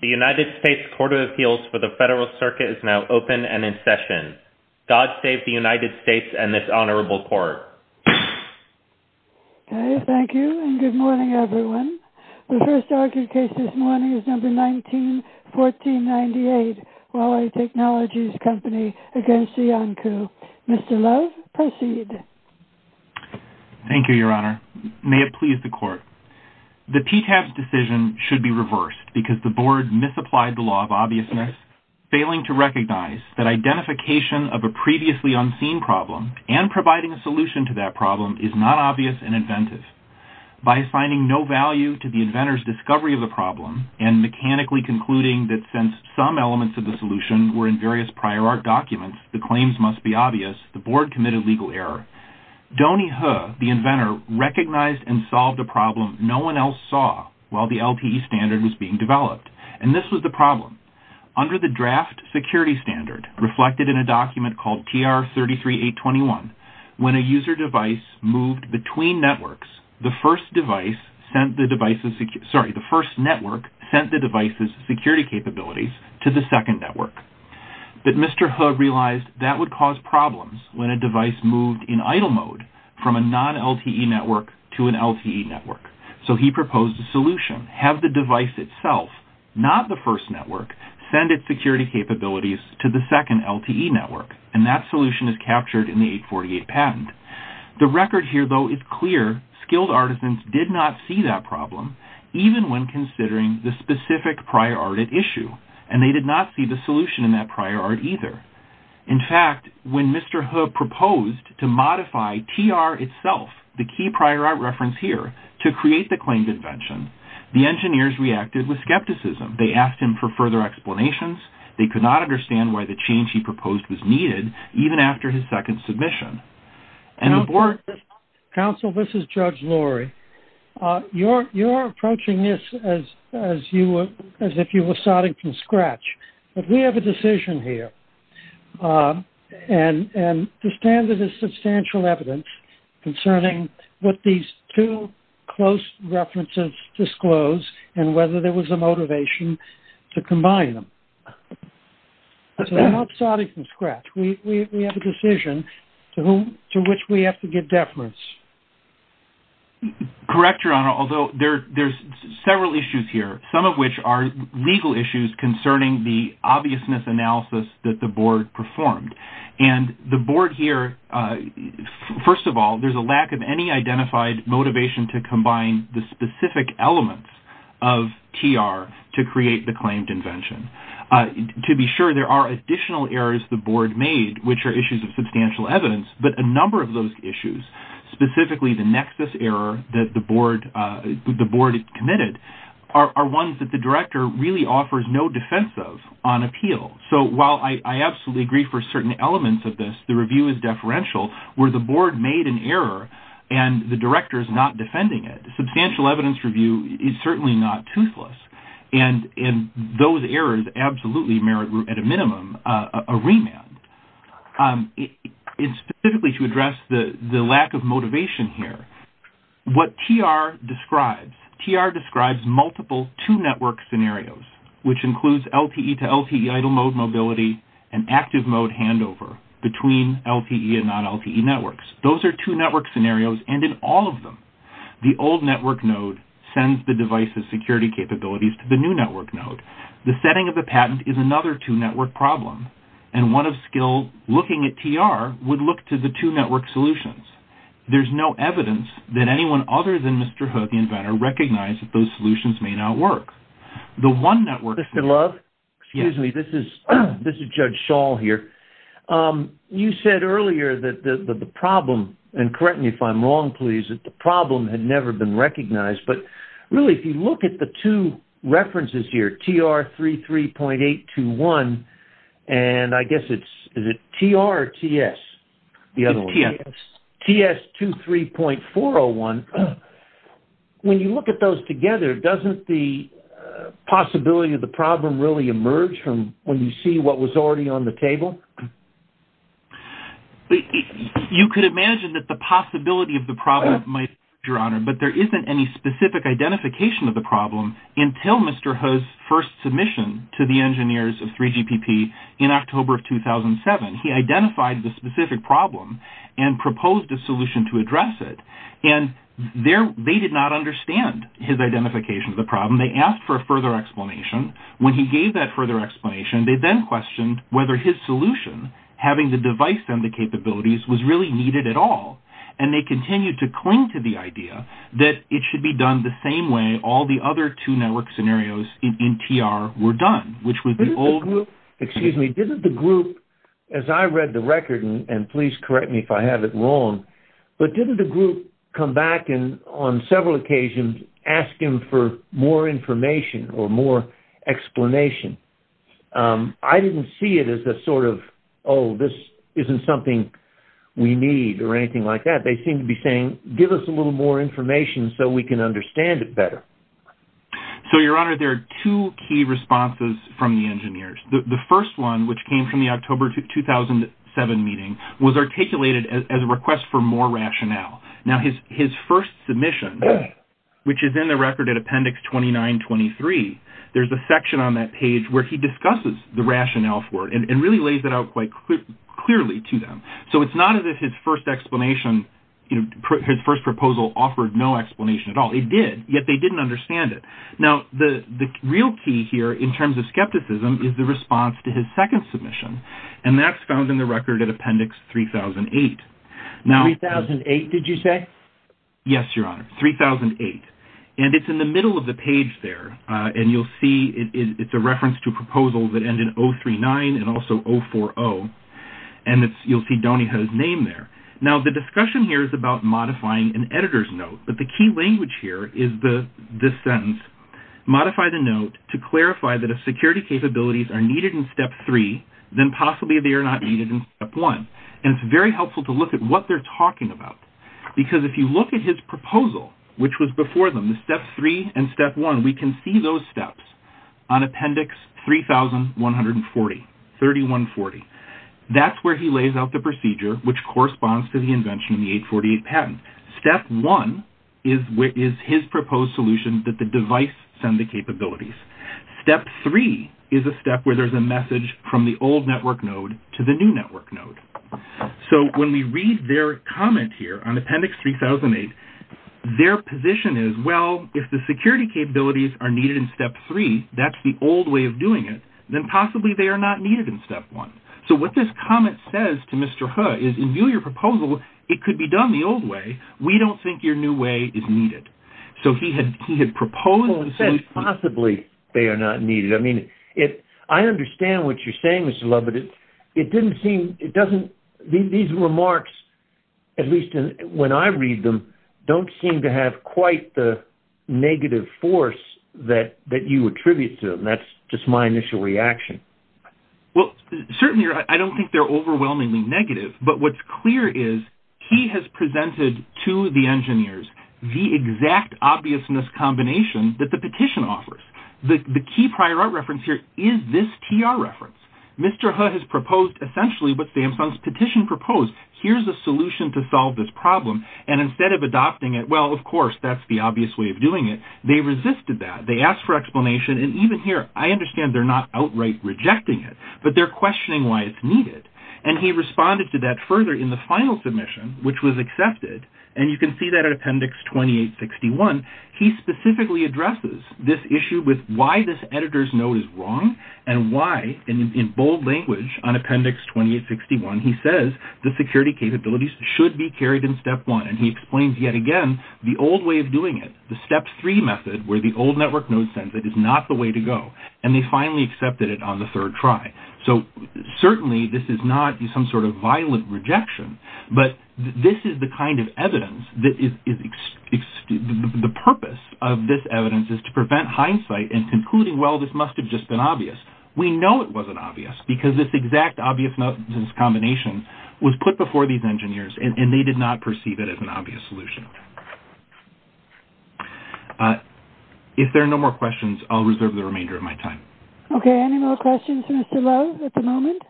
The United States Court of Appeals for the Federal Circuit is now open and in session. God save the United States and this Honorable Court. Thank you and good morning everyone. The first argued case this morning is No. 191498, Huawei Technologies Co., Ltd. v. Iancu. Mr. Love, proceed. The PTAS decision should be reversed because the board misapplied the law of obviousness, failing to recognize that identification of a previously unseen problem and providing a solution to that problem is not obvious and inventive. By assigning no value to the inventor's discovery of the problem and mechanically concluding that since some elements of the solution were in various prior art documents, the claims must be obvious, the board committed legal error. Donnie He, the inventor, recognized and solved a problem no one else saw while the LTE standard was being developed. And this was the problem. Under the draft security standard reflected in a document called TR-33821, when a user device moved between networks, the first network sent the device's security capabilities to the second network. But Mr. He realized that would cause problems when a device moved in idle mode from a non-LTE network to an LTE network. So he proposed a solution. Have the device itself, not the first network, send its security capabilities to the second LTE network. And that solution is captured in the 848 patent. The record here, though, is clear. Skilled artisans did not see that problem even when considering the specific prior art at issue. And they did not see the solution in that prior art either. In fact, when Mr. He proposed to modify TR itself, the key prior art reference here, to create the claimed invention, the engineers reacted with skepticism. They asked him for further explanations. They could not understand why the change he proposed was needed, even after his second submission. Counsel, this is Judge Lurie. You're approaching this as if you were starting from scratch. But we have a decision here. And the standard is substantial evidence concerning what these two close references disclose and whether there was a motivation to combine them. So we're not starting from scratch. We have a decision to which we have to give deference. Correct, Your Honor, although there's several issues here, some of which are legal issues concerning the obviousness analysis that the board performed. And the board here, first of all, there's a lack of any identified motivation to combine the specific elements of TR to create the claimed invention. To be sure, there are additional errors the board made, which are issues of substantial evidence. But a number of those issues, specifically the nexus error that the board committed, are ones that the director really offers no defense of on appeal. So while I absolutely agree for certain elements of this, the review is deferential, where the board made an error and the director is not defending it. Substantial evidence review is certainly not toothless. And those errors absolutely merit, at a minimum, a remand. And specifically to address the lack of motivation here, what TR describes, TR describes multiple two-network scenarios, which includes LTE to LTE idle mode mobility and active mode handover between LTE and non-LTE networks. Those are two-network scenarios, and in all of them, the old network node sends the device's security capabilities to the new network node. The setting of the patent is another two-network problem, and one of skill looking at TR would look to the two-network solutions. There's no evidence that anyone other than Mr. Hook, the inventor, recognized that those solutions may not work. The one-network... Mr. Love? Yes. Excuse me, this is Judge Shaw here. You said earlier that the problem, and correct me if I'm wrong, please, that the problem had never been recognized. But really, if you look at the two references here, TR33.821, and I guess it's... Is it TR or TS? TS. TS23.401. When you look at those together, doesn't the possibility of the problem really emerge from when you see what was already on the table? You could imagine that the possibility of the problem might emerge, Your Honor, but there isn't any specific identification of the problem until Mr. Ho's first submission to the engineers of 3GPP in October of 2007. He identified the specific problem and proposed a solution to address it, and they did not understand his identification of the problem. They asked for a further explanation. When he gave that further explanation, they then questioned whether his solution, having the device and the capabilities, was really needed at all, and they continued to cling to the idea that it should be done the same way all the other two network scenarios in TR were done, which was the old... Excuse me. Didn't the group, as I read the record, and please correct me if I have it wrong, but didn't the group come back and on several occasions ask him for more information or more explanation? I didn't see it as a sort of, oh, this isn't something we need or anything like that. They seemed to be saying, give us a little more information so we can understand it better. So, Your Honor, there are two key responses from the engineers. The first one, which came from the October 2007 meeting, was articulated as a request for more rationale. Now, his first submission, which is in the record at Appendix 2923, there's a section on that page where he discusses the rationale for it and really lays it out quite clearly to them. So it's not as if his first explanation, his first proposal offered no explanation at all. It did, yet they didn't understand it. Now, the real key here in terms of skepticism is the response to his second submission, and that's found in the record at Appendix 3008. 3008, did you say? Yes, Your Honor, 3008. And it's in the middle of the page there, and you'll see it's a reference to proposals that end in 039 and also 040. And you'll see Donnie has his name there. Now, the discussion here is about modifying an editor's note, but the key language here is this sentence, modify the note to clarify that if security capabilities are needed in Step 3, then possibly they are not needed in Step 1. And it's very helpful to look at what they're talking about, because if you look at his proposal, which was before them, the Step 3 and Step 1, we can see those steps on Appendix 3140. That's where he lays out the procedure, which corresponds to the invention of the 848 patent. Step 1 is his proposed solution that the device send the capabilities. Step 3 is a step where there's a message from the old network node to the new network node. So when we read their comment here on Appendix 3008, their position is, well, if the security capabilities are needed in Step 3, that's the old way of doing it, then possibly they are not needed in Step 1. So what this comment says to Mr. He is, in view of your proposal, it could be done the old way. We don't think your new way is needed. So he had proposed the solution. Possibly they are not needed. I mean, I understand what you're saying, Mr. Lubbitt. It didn't seem, it doesn't, these remarks, at least when I read them, don't seem to have quite the negative force that you attribute to them. That's just my initial reaction. Well, certainly, I don't think they're overwhelmingly negative. But what's clear is he has presented to the engineers the exact obviousness combination that the petition offers. The key prior art reference here is this TR reference. Mr. He has proposed essentially what Samsung's petition proposed. Here's a solution to solve this problem. And instead of adopting it, well, of course, that's the obvious way of doing it, they resisted that. They asked for explanation. And even here, I understand they're not outright rejecting it, but they're questioning why it's needed. And he responded to that further in the final submission, which was accepted. And you can see that in Appendix 2861. He specifically addresses this issue with why this editor's note is wrong, and why, in bold language on Appendix 2861, he says the security capabilities should be carried in Step 1. And he explains yet again the old way of doing it, the Step 3 method, where the old network note sends it, is not the way to go. And they finally accepted it on the third try. So, certainly, this is not some sort of violent rejection, but this is the kind of evidence that is – the purpose of this evidence is to prevent hindsight in concluding, well, this must have just been obvious. We know it wasn't obvious, because this exact obviousness combination was put before these engineers, and they did not perceive it as an obvious solution. If there are no more questions, I'll reserve the remainder of my time. Okay. Any more questions, Mr. Lowe, at the moment?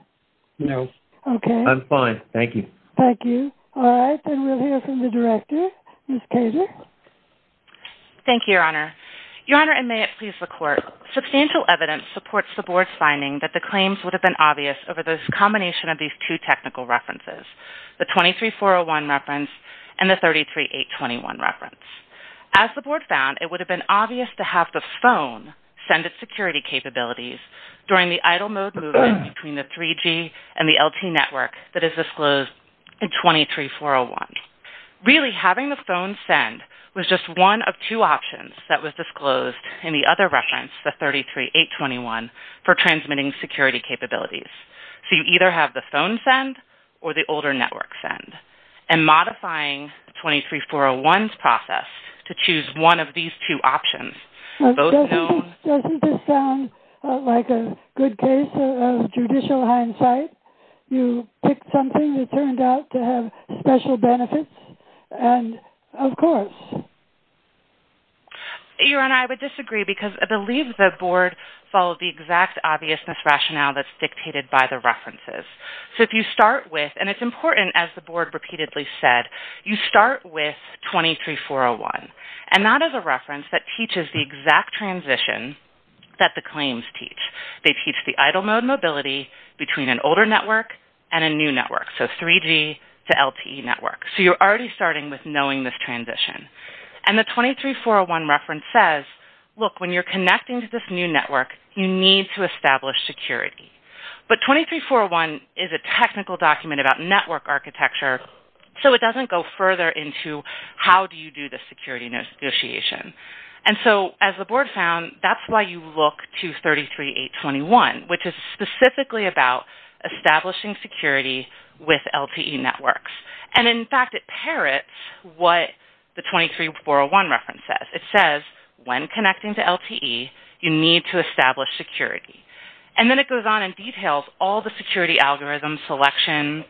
No. Okay. I'm fine. Thank you. Thank you. All right. Then we'll hear from the director, Ms. Kager. Thank you, Your Honor. Your Honor, and may it please the Court, substantial evidence supports the Board's finding that the claims would have been obvious over this combination of these two technical references, the 23401 reference and the 33821 reference. As the Board found, it would have been obvious to have the phone send its security capabilities during the idle mode movement between the 3G and the LT network that is disclosed in 23401. Really, having the phone send was just one of two options that was disclosed in the other reference, the 33821, for transmitting security capabilities. So you either have the phone send or the older network send. And modifying 23401's process to choose one of these two options, both known... Doesn't this sound like a good case of judicial hindsight? You picked something that turned out to have special benefits? And, of course... Your Honor, I would disagree because I believe the Board followed the exact obviousness rationale that's dictated by the references. So if you start with... And it's important, as the Board repeatedly said, you start with 23401. And that is a reference that teaches the exact transition that the claims teach. They teach the idle mode mobility between an older network and a new network, so 3G to LT network. So you're already starting with knowing this transition. And the 23401 reference says, look, when you're connecting to this new network, you need to establish security. But 23401 is a technical document about network architecture, so it doesn't go further into how do you do the security negotiation. And so, as the Board found, that's why you look to 33821, which is specifically about establishing security with LTE networks. And, in fact, it parrots what the 23401 reference says. It says, when connecting to LTE, you need to establish security. And then it goes on and details all the security algorithms, selection,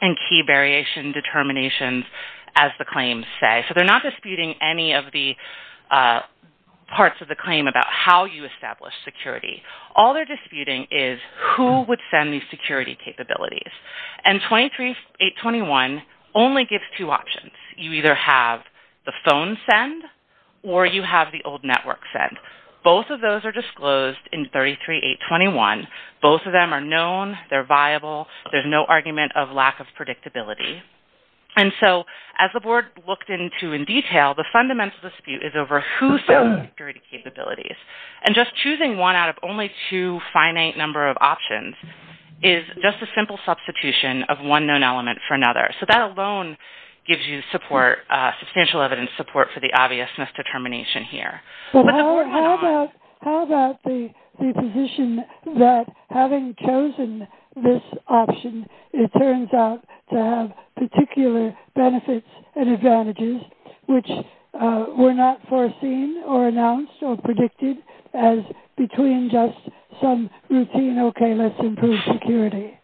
and key variation determinations, as the claims say. So they're not disputing any of the parts of the claim about how you establish security. All they're disputing is who would send these security capabilities. And 23821 only gives two options. You either have the phone send or you have the old network send. Both of those are disclosed in 33821. Both of them are known. They're viable. There's no argument of lack of predictability. And so, as the Board looked into in detail, the fundamental dispute is over who sends the security capabilities. And just choosing one out of only two finite number of options is just a simple substitution of one known element for another. So that alone gives you substantial evidence support for the obvious misdetermination here. But how about the position that, having chosen this option, it turns out to have particular benefits and advantages, which were not foreseen or announced or predicted as between just some routine, okay, let's improve security?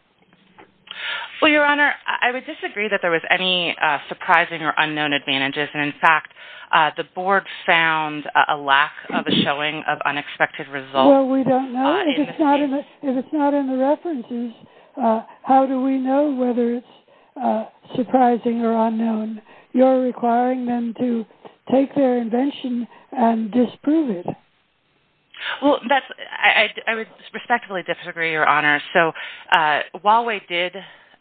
Well, Your Honor, I would disagree that there was any surprising or unknown advantages. And, in fact, the Board found a lack of a showing of unexpected results. Well, we don't know. If it's not in the references, how do we know whether it's surprising or unknown? You're requiring them to take their invention and disprove it. Well, I would respectfully disagree, Your Honor. So Huawei did,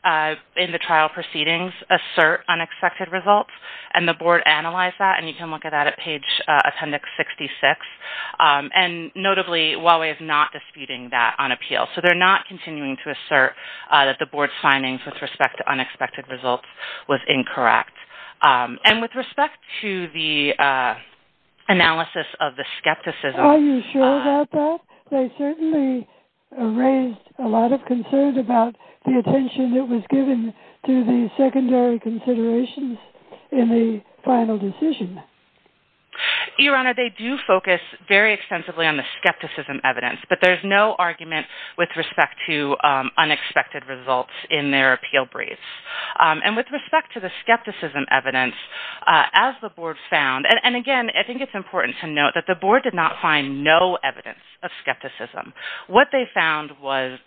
in the trial proceedings, assert unexpected results. And the Board analyzed that, and you can look at that at page appendix 66. And, notably, Huawei is not disputing that on appeal. So they're not continuing to assert that the Board's findings with respect to unexpected results was incorrect. And with respect to the analysis of the skepticism… Are you sure about that? They certainly raised a lot of concern about the attention that was given to the secondary considerations in the final decision. Your Honor, they do focus very extensively on the skepticism evidence. But there's no argument with respect to unexpected results in their appeal briefs. And with respect to the skepticism evidence, as the Board found… And, again, I think it's important to note that the Board did not find no evidence of skepticism. What they found was,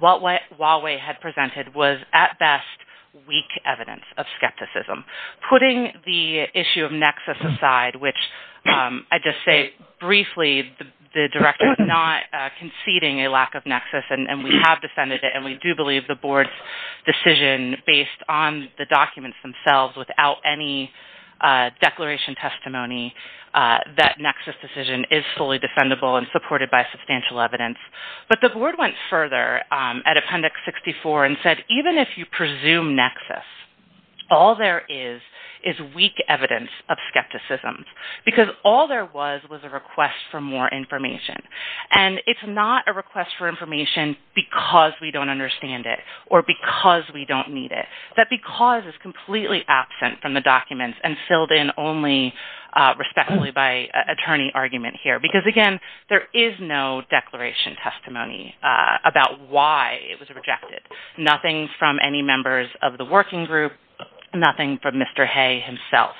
what Huawei had presented was, at best, weak evidence of skepticism. Putting the issue of nexus aside, which, I'd just say briefly, the Director was not conceding a lack of nexus. And we have defended it. And we do believe the Board's decision, based on the documents themselves, without any declaration testimony, that nexus decision is fully defendable and supported by substantial evidence. But the Board went further at appendix 64 and said, even if you presume nexus, all there is is weak evidence of skepticism. Because all there was was a request for more information. And it's not a request for information because we don't understand it or because we don't need it. That because is completely absent from the documents and filled in only respectfully by attorney argument here. Because, again, there is no declaration testimony about why it was rejected. Nothing from any members of the working group. Nothing from Mr. Hay himself.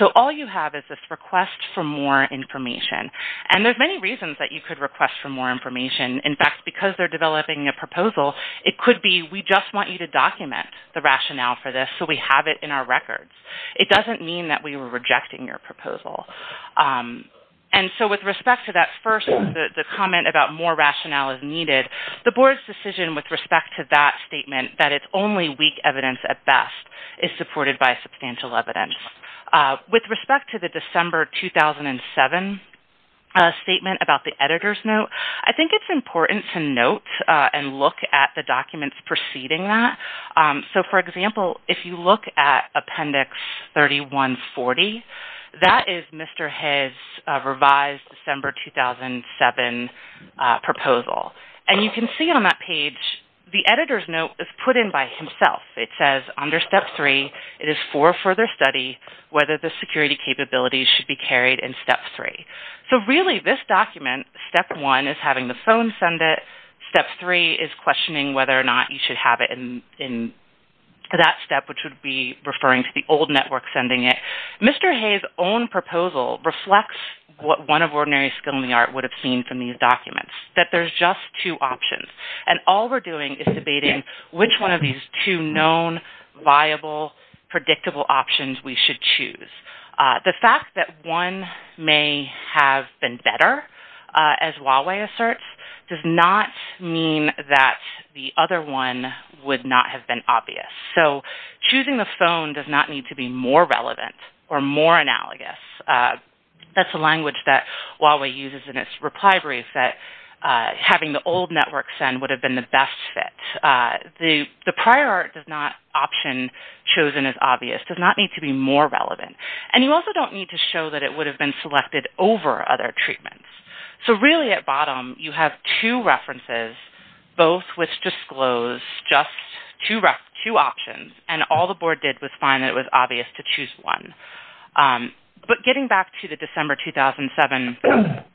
So all you have is this request for more information. And there's many reasons that you could request for more information. In fact, because they're developing a proposal, it could be we just want you to document the rationale for this so we have it in our records. It doesn't mean that we were rejecting your proposal. And so with respect to that first, the comment about more rationale is needed, the Board's decision with respect to that statement, that it's only weak evidence at best, is supported by substantial evidence. With respect to the December 2007 statement about the editor's note, I think it's important to note and look at the documents preceding that. So, for example, if you look at Appendix 3140, that is Mr. Hay's revised December 2007 proposal. And you can see on that page, the editor's note is put in by himself. It says, under Step 3, it is for further study whether the security capabilities should be carried in Step 3. So really, this document, Step 1 is having the phone send it. Step 3 is questioning whether or not you should have it in that step, which would be referring to the old network sending it. Mr. Hay's own proposal reflects what one of ordinary skill in the art would have seen from these documents, that there's just two options. And all we're doing is debating which one of these two known, viable, predictable options we should choose. The fact that one may have been better, as Huawei asserts, does not mean that the other one would not have been obvious. So choosing the phone does not need to be more relevant or more analogous. That's a language that Huawei uses in its reply brief, that having the old network send would have been the best fit. The prior art does not option chosen as obvious, does not need to be more relevant. And you also don't need to show that it would have been selected over other treatments. So really, at bottom, you have two references, both with disclosed, just two options. And all the board did was find that it was obvious to choose one. But getting back to the December 2007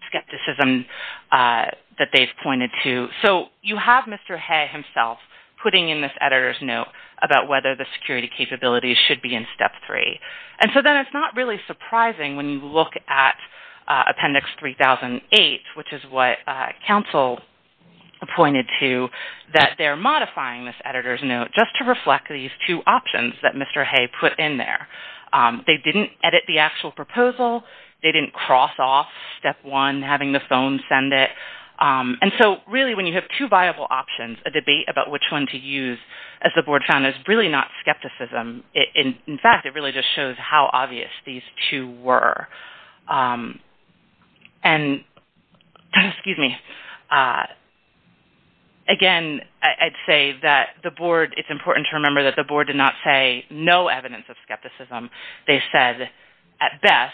skepticism that they've pointed to, so you have Mr. Hay himself putting in this editor's note about whether the security capabilities should be in Step 3. And so then it's not really surprising when you look at Appendix 3008, which is what counsel pointed to, that they're modifying this editor's note just to reflect these two options that Mr. Hay put in there. They didn't edit the actual proposal. They didn't cross off Step 1, having the phone send it. And so really, when you have two viable options, a debate about which one to use, as the board found, is really not skepticism. In fact, it really just shows how obvious these two were. And again, I'd say that it's important to remember that the board did not say no evidence of skepticism. They said, at best,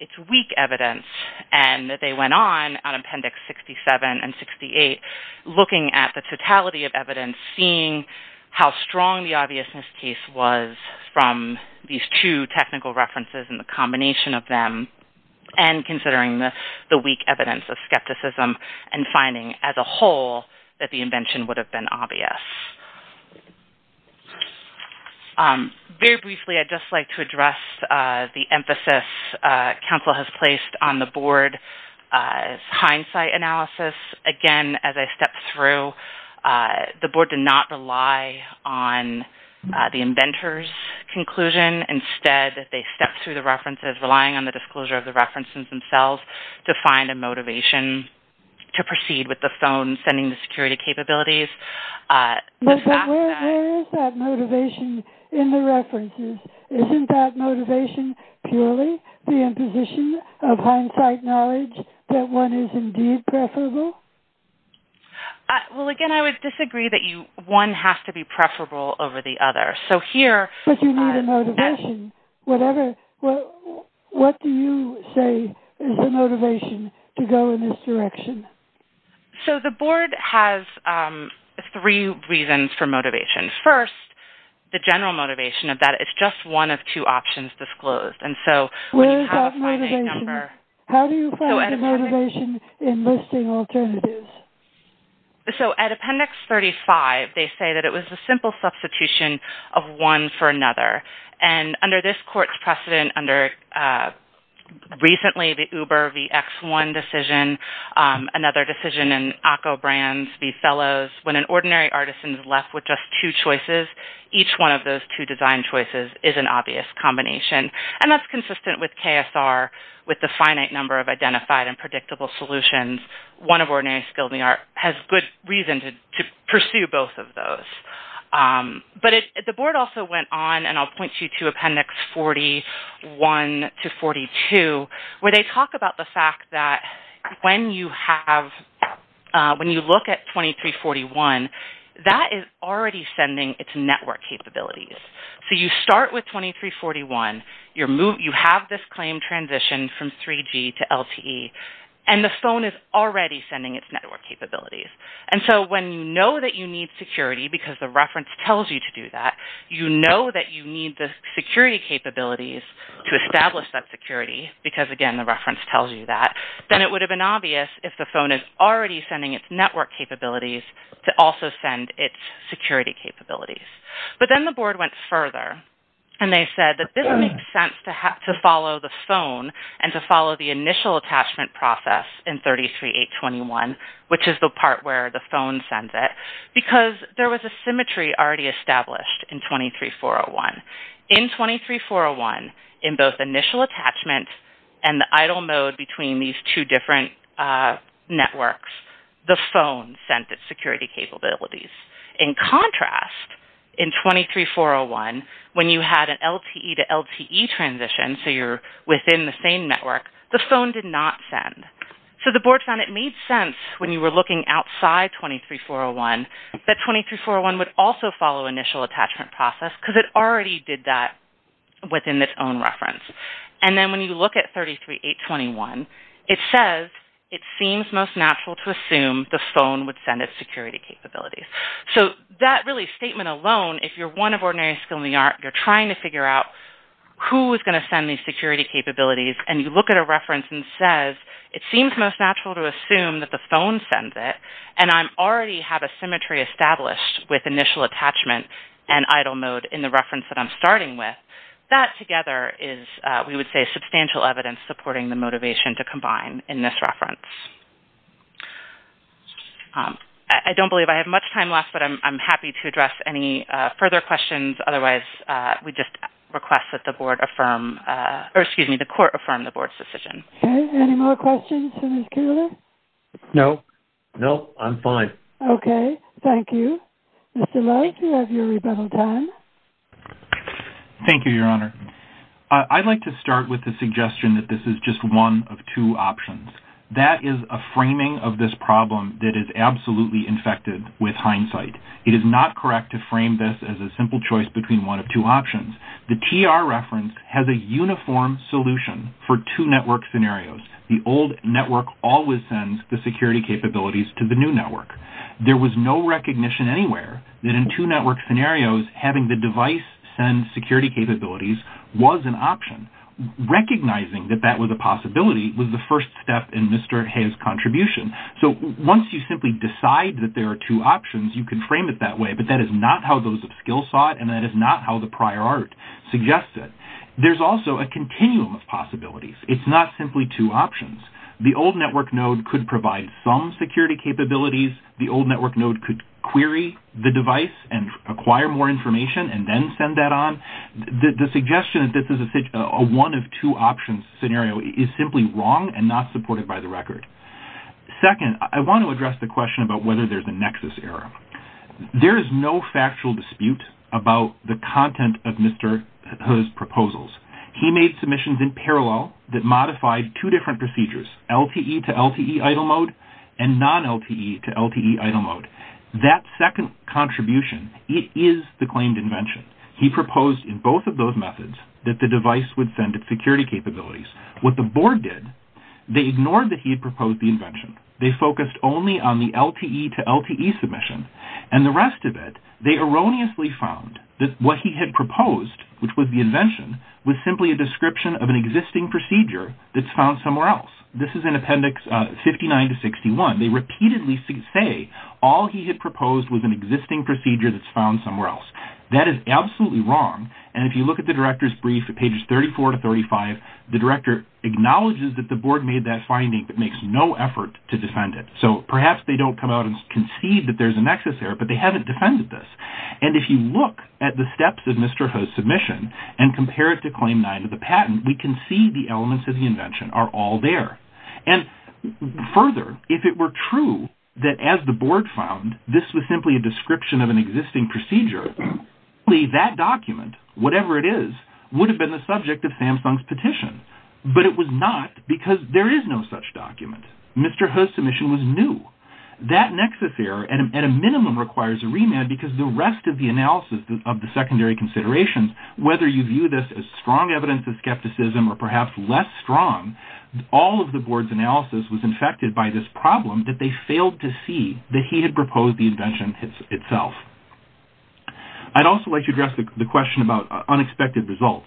it's weak evidence. And that they went on, on Appendix 67 and 68, looking at the totality of evidence, and seeing how strong the obviousness case was from these two technical references and the combination of them, and considering the weak evidence of skepticism and finding, as a whole, that the invention would have been obvious. Very briefly, I'd just like to address the emphasis counsel has placed on the board's hindsight analysis. Again, as I step through, the board did not rely on the inventor's conclusion. Instead, they stepped through the references, relying on the disclosure of the references themselves, to find a motivation to proceed with the phone sending the security capabilities. But where is that motivation in the references? Isn't that motivation purely the imposition of hindsight knowledge that one is indeed preferable? Well, again, I would disagree that one has to be preferable over the other. But you need a motivation. What do you say is the motivation to go in this direction? So the board has three reasons for motivation. First, the general motivation of that is just one of two options disclosed. Where is that motivation? How do you find the motivation in listing alternatives? So at Appendix 35, they say that it was a simple substitution of one for another. And under this court's precedent, under recently the Uber v. X1 decision, another decision in ACCO Brands v. Fellows, when an ordinary artisan is left with just two choices, each one of those two design choices is an obvious combination. And that's consistent with KSR, with the finite number of identified and predictable solutions. One of ordinary skilled in the art has good reason to pursue both of those. But the board also went on, and I'll point you to Appendix 41 to 42, where they talk about the fact that when you look at 2341, that is already sending its network capabilities. So you start with 2341, you have this claim transition from 3G to LTE, and the phone is already sending its network capabilities. And so when you know that you need security because the reference tells you to do that, you know that you need the security capabilities to establish that security because, again, the reference tells you that, then it would have been obvious if the phone is already sending its network capabilities to also send its security capabilities. But then the board went further, and they said that this makes sense to follow the phone and to follow the initial attachment process in 33821, which is the part where the phone sends it, because there was a symmetry already established in 23401. In 23401, in both initial attachment and the idle mode between these two different networks, the phone sent its security capabilities. In contrast, in 23401, when you had an LTE to LTE transition, so you're within the same network, the phone did not send. So the board found it made sense when you were looking outside 23401 that 23401 would also follow initial attachment process because it already did that within its own reference. And then when you look at 33821, it says, it seems most natural to assume the phone would send its security capabilities. So that really statement alone, if you're one of ordinary skill in the art, you're trying to figure out who is going to send these security capabilities, and you look at a reference and it says, it seems most natural to assume that the phone sends it, and I already have a symmetry established with initial attachment and idle mode in the reference that I'm starting with. That together is, we would say, substantial evidence supporting the motivation to combine in this reference. I don't believe I have much time left, but I'm happy to address any further questions. Otherwise, we just request that the court affirm the board's decision. Okay. Any more questions for Ms. Kuehler? No. No, I'm fine. Okay. Thank you. Mr. Lowe, you have your rebuttal time. Thank you, Your Honor. I'd like to start with the suggestion that this is just one of two options. That is a framing of this problem that is absolutely infected with hindsight. It is not correct to frame this as a simple choice between one of two options. The TR reference has a uniform solution for two network scenarios. The old network always sends the security capabilities to the new network. There was no recognition anywhere that in two network scenarios, having the device send security capabilities was an option. Recognizing that that was a possibility was the first step in Mr. Hayes' contribution. So once you simply decide that there are two options, you can frame it that way, but that is not how those of skill saw it, and that is not how the prior art suggests it. There's also a continuum of possibilities. It's not simply two options. The old network node could provide some security capabilities. The old network node could query the device and acquire more information and then send that on. The suggestion that this is a one-of-two-options scenario is simply wrong and not supported by the record. Second, I want to address the question about whether there's a nexus error. There is no factual dispute about the content of Mr. Hayes' proposals. He made submissions in parallel that modified two different procedures, LTE to LTE idle mode and non-LTE to LTE idle mode. That second contribution, it is the claimed invention. He proposed in both of those methods that the device would send its security capabilities. What the board did, they ignored that he had proposed the invention. They focused only on the LTE to LTE submission and the rest of it. They erroneously found that what he had proposed, which was the invention, was simply a description of an existing procedure that's found somewhere else. This is in appendix 59 to 61. They repeatedly say all he had proposed was an existing procedure that's found somewhere else. That is absolutely wrong, and if you look at the director's brief at pages 34 to 35, the director acknowledges that the board made that finding but makes no effort to defend it. Perhaps they don't come out and concede that there's a nexus error, but they haven't defended this. If you look at the steps of Mr. Hayes' submission and compare it to claim nine of the patent, we can see the elements of the invention are all there. Further, if it were true that as the board found this was simply a description of an existing procedure, that document, whatever it is, would have been the subject of Samsung's petition, but it was not because there is no such document. Mr. Ho's submission was new. That nexus error, at a minimum, requires a remand because the rest of the analysis of the secondary considerations, whether you view this as strong evidence of skepticism or perhaps less strong, all of the board's analysis was infected by this problem that they failed to see that he had proposed the invention itself. I'd also like to address the question about unexpected results.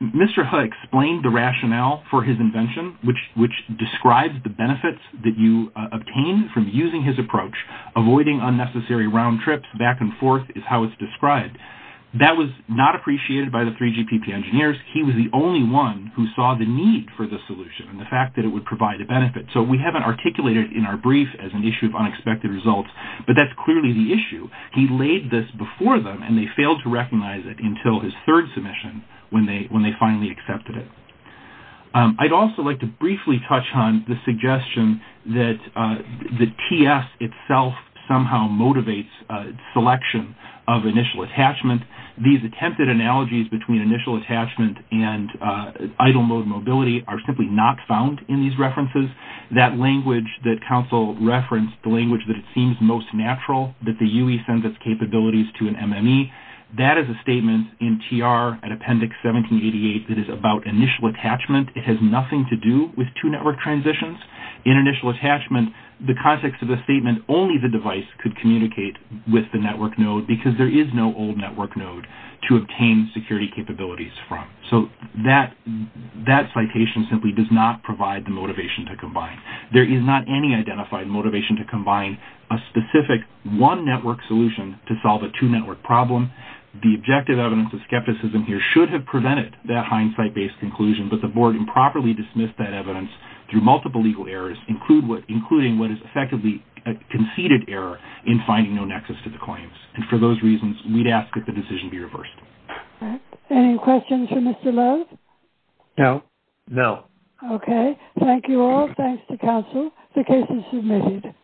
Mr. Ho explained the rationale for his invention, which describes the benefits that you obtain from using his approach. Avoiding unnecessary round trips back and forth is how it's described. That was not appreciated by the three GPP engineers. He was the only one who saw the need for the solution and the fact that it would provide a benefit, so we haven't articulated in our brief as an issue of unexpected results, but that's clearly the issue. He laid this before them, and they failed to recognize it until his third submission when they finally accepted it. I'd also like to briefly touch on the suggestion that the TS itself somehow motivates selection of initial attachment. These attempted analogies between initial attachment and idle mode mobility are simply not found in these references, that language that counsel referenced, the language that it seems most natural that the UE sends its capabilities to an MME. That is a statement in TR at Appendix 1788 that is about initial attachment. It has nothing to do with two network transitions. In initial attachment, the context of the statement, only the device could communicate with the network node because there is no old network node to obtain security capabilities from. That citation simply does not provide the motivation to combine. There is not any identified motivation to combine a specific one network solution to solve a two network problem. The objective evidence of skepticism here should have prevented that hindsight-based conclusion, but the board improperly dismissed that evidence through multiple legal errors, including what is effectively a conceded error in finding no nexus to the claims. For those reasons, we'd ask that the decision be reversed. Any questions for Mr. Love? No. No. Okay. Thank you all. Thanks to counsel. The case is submitted.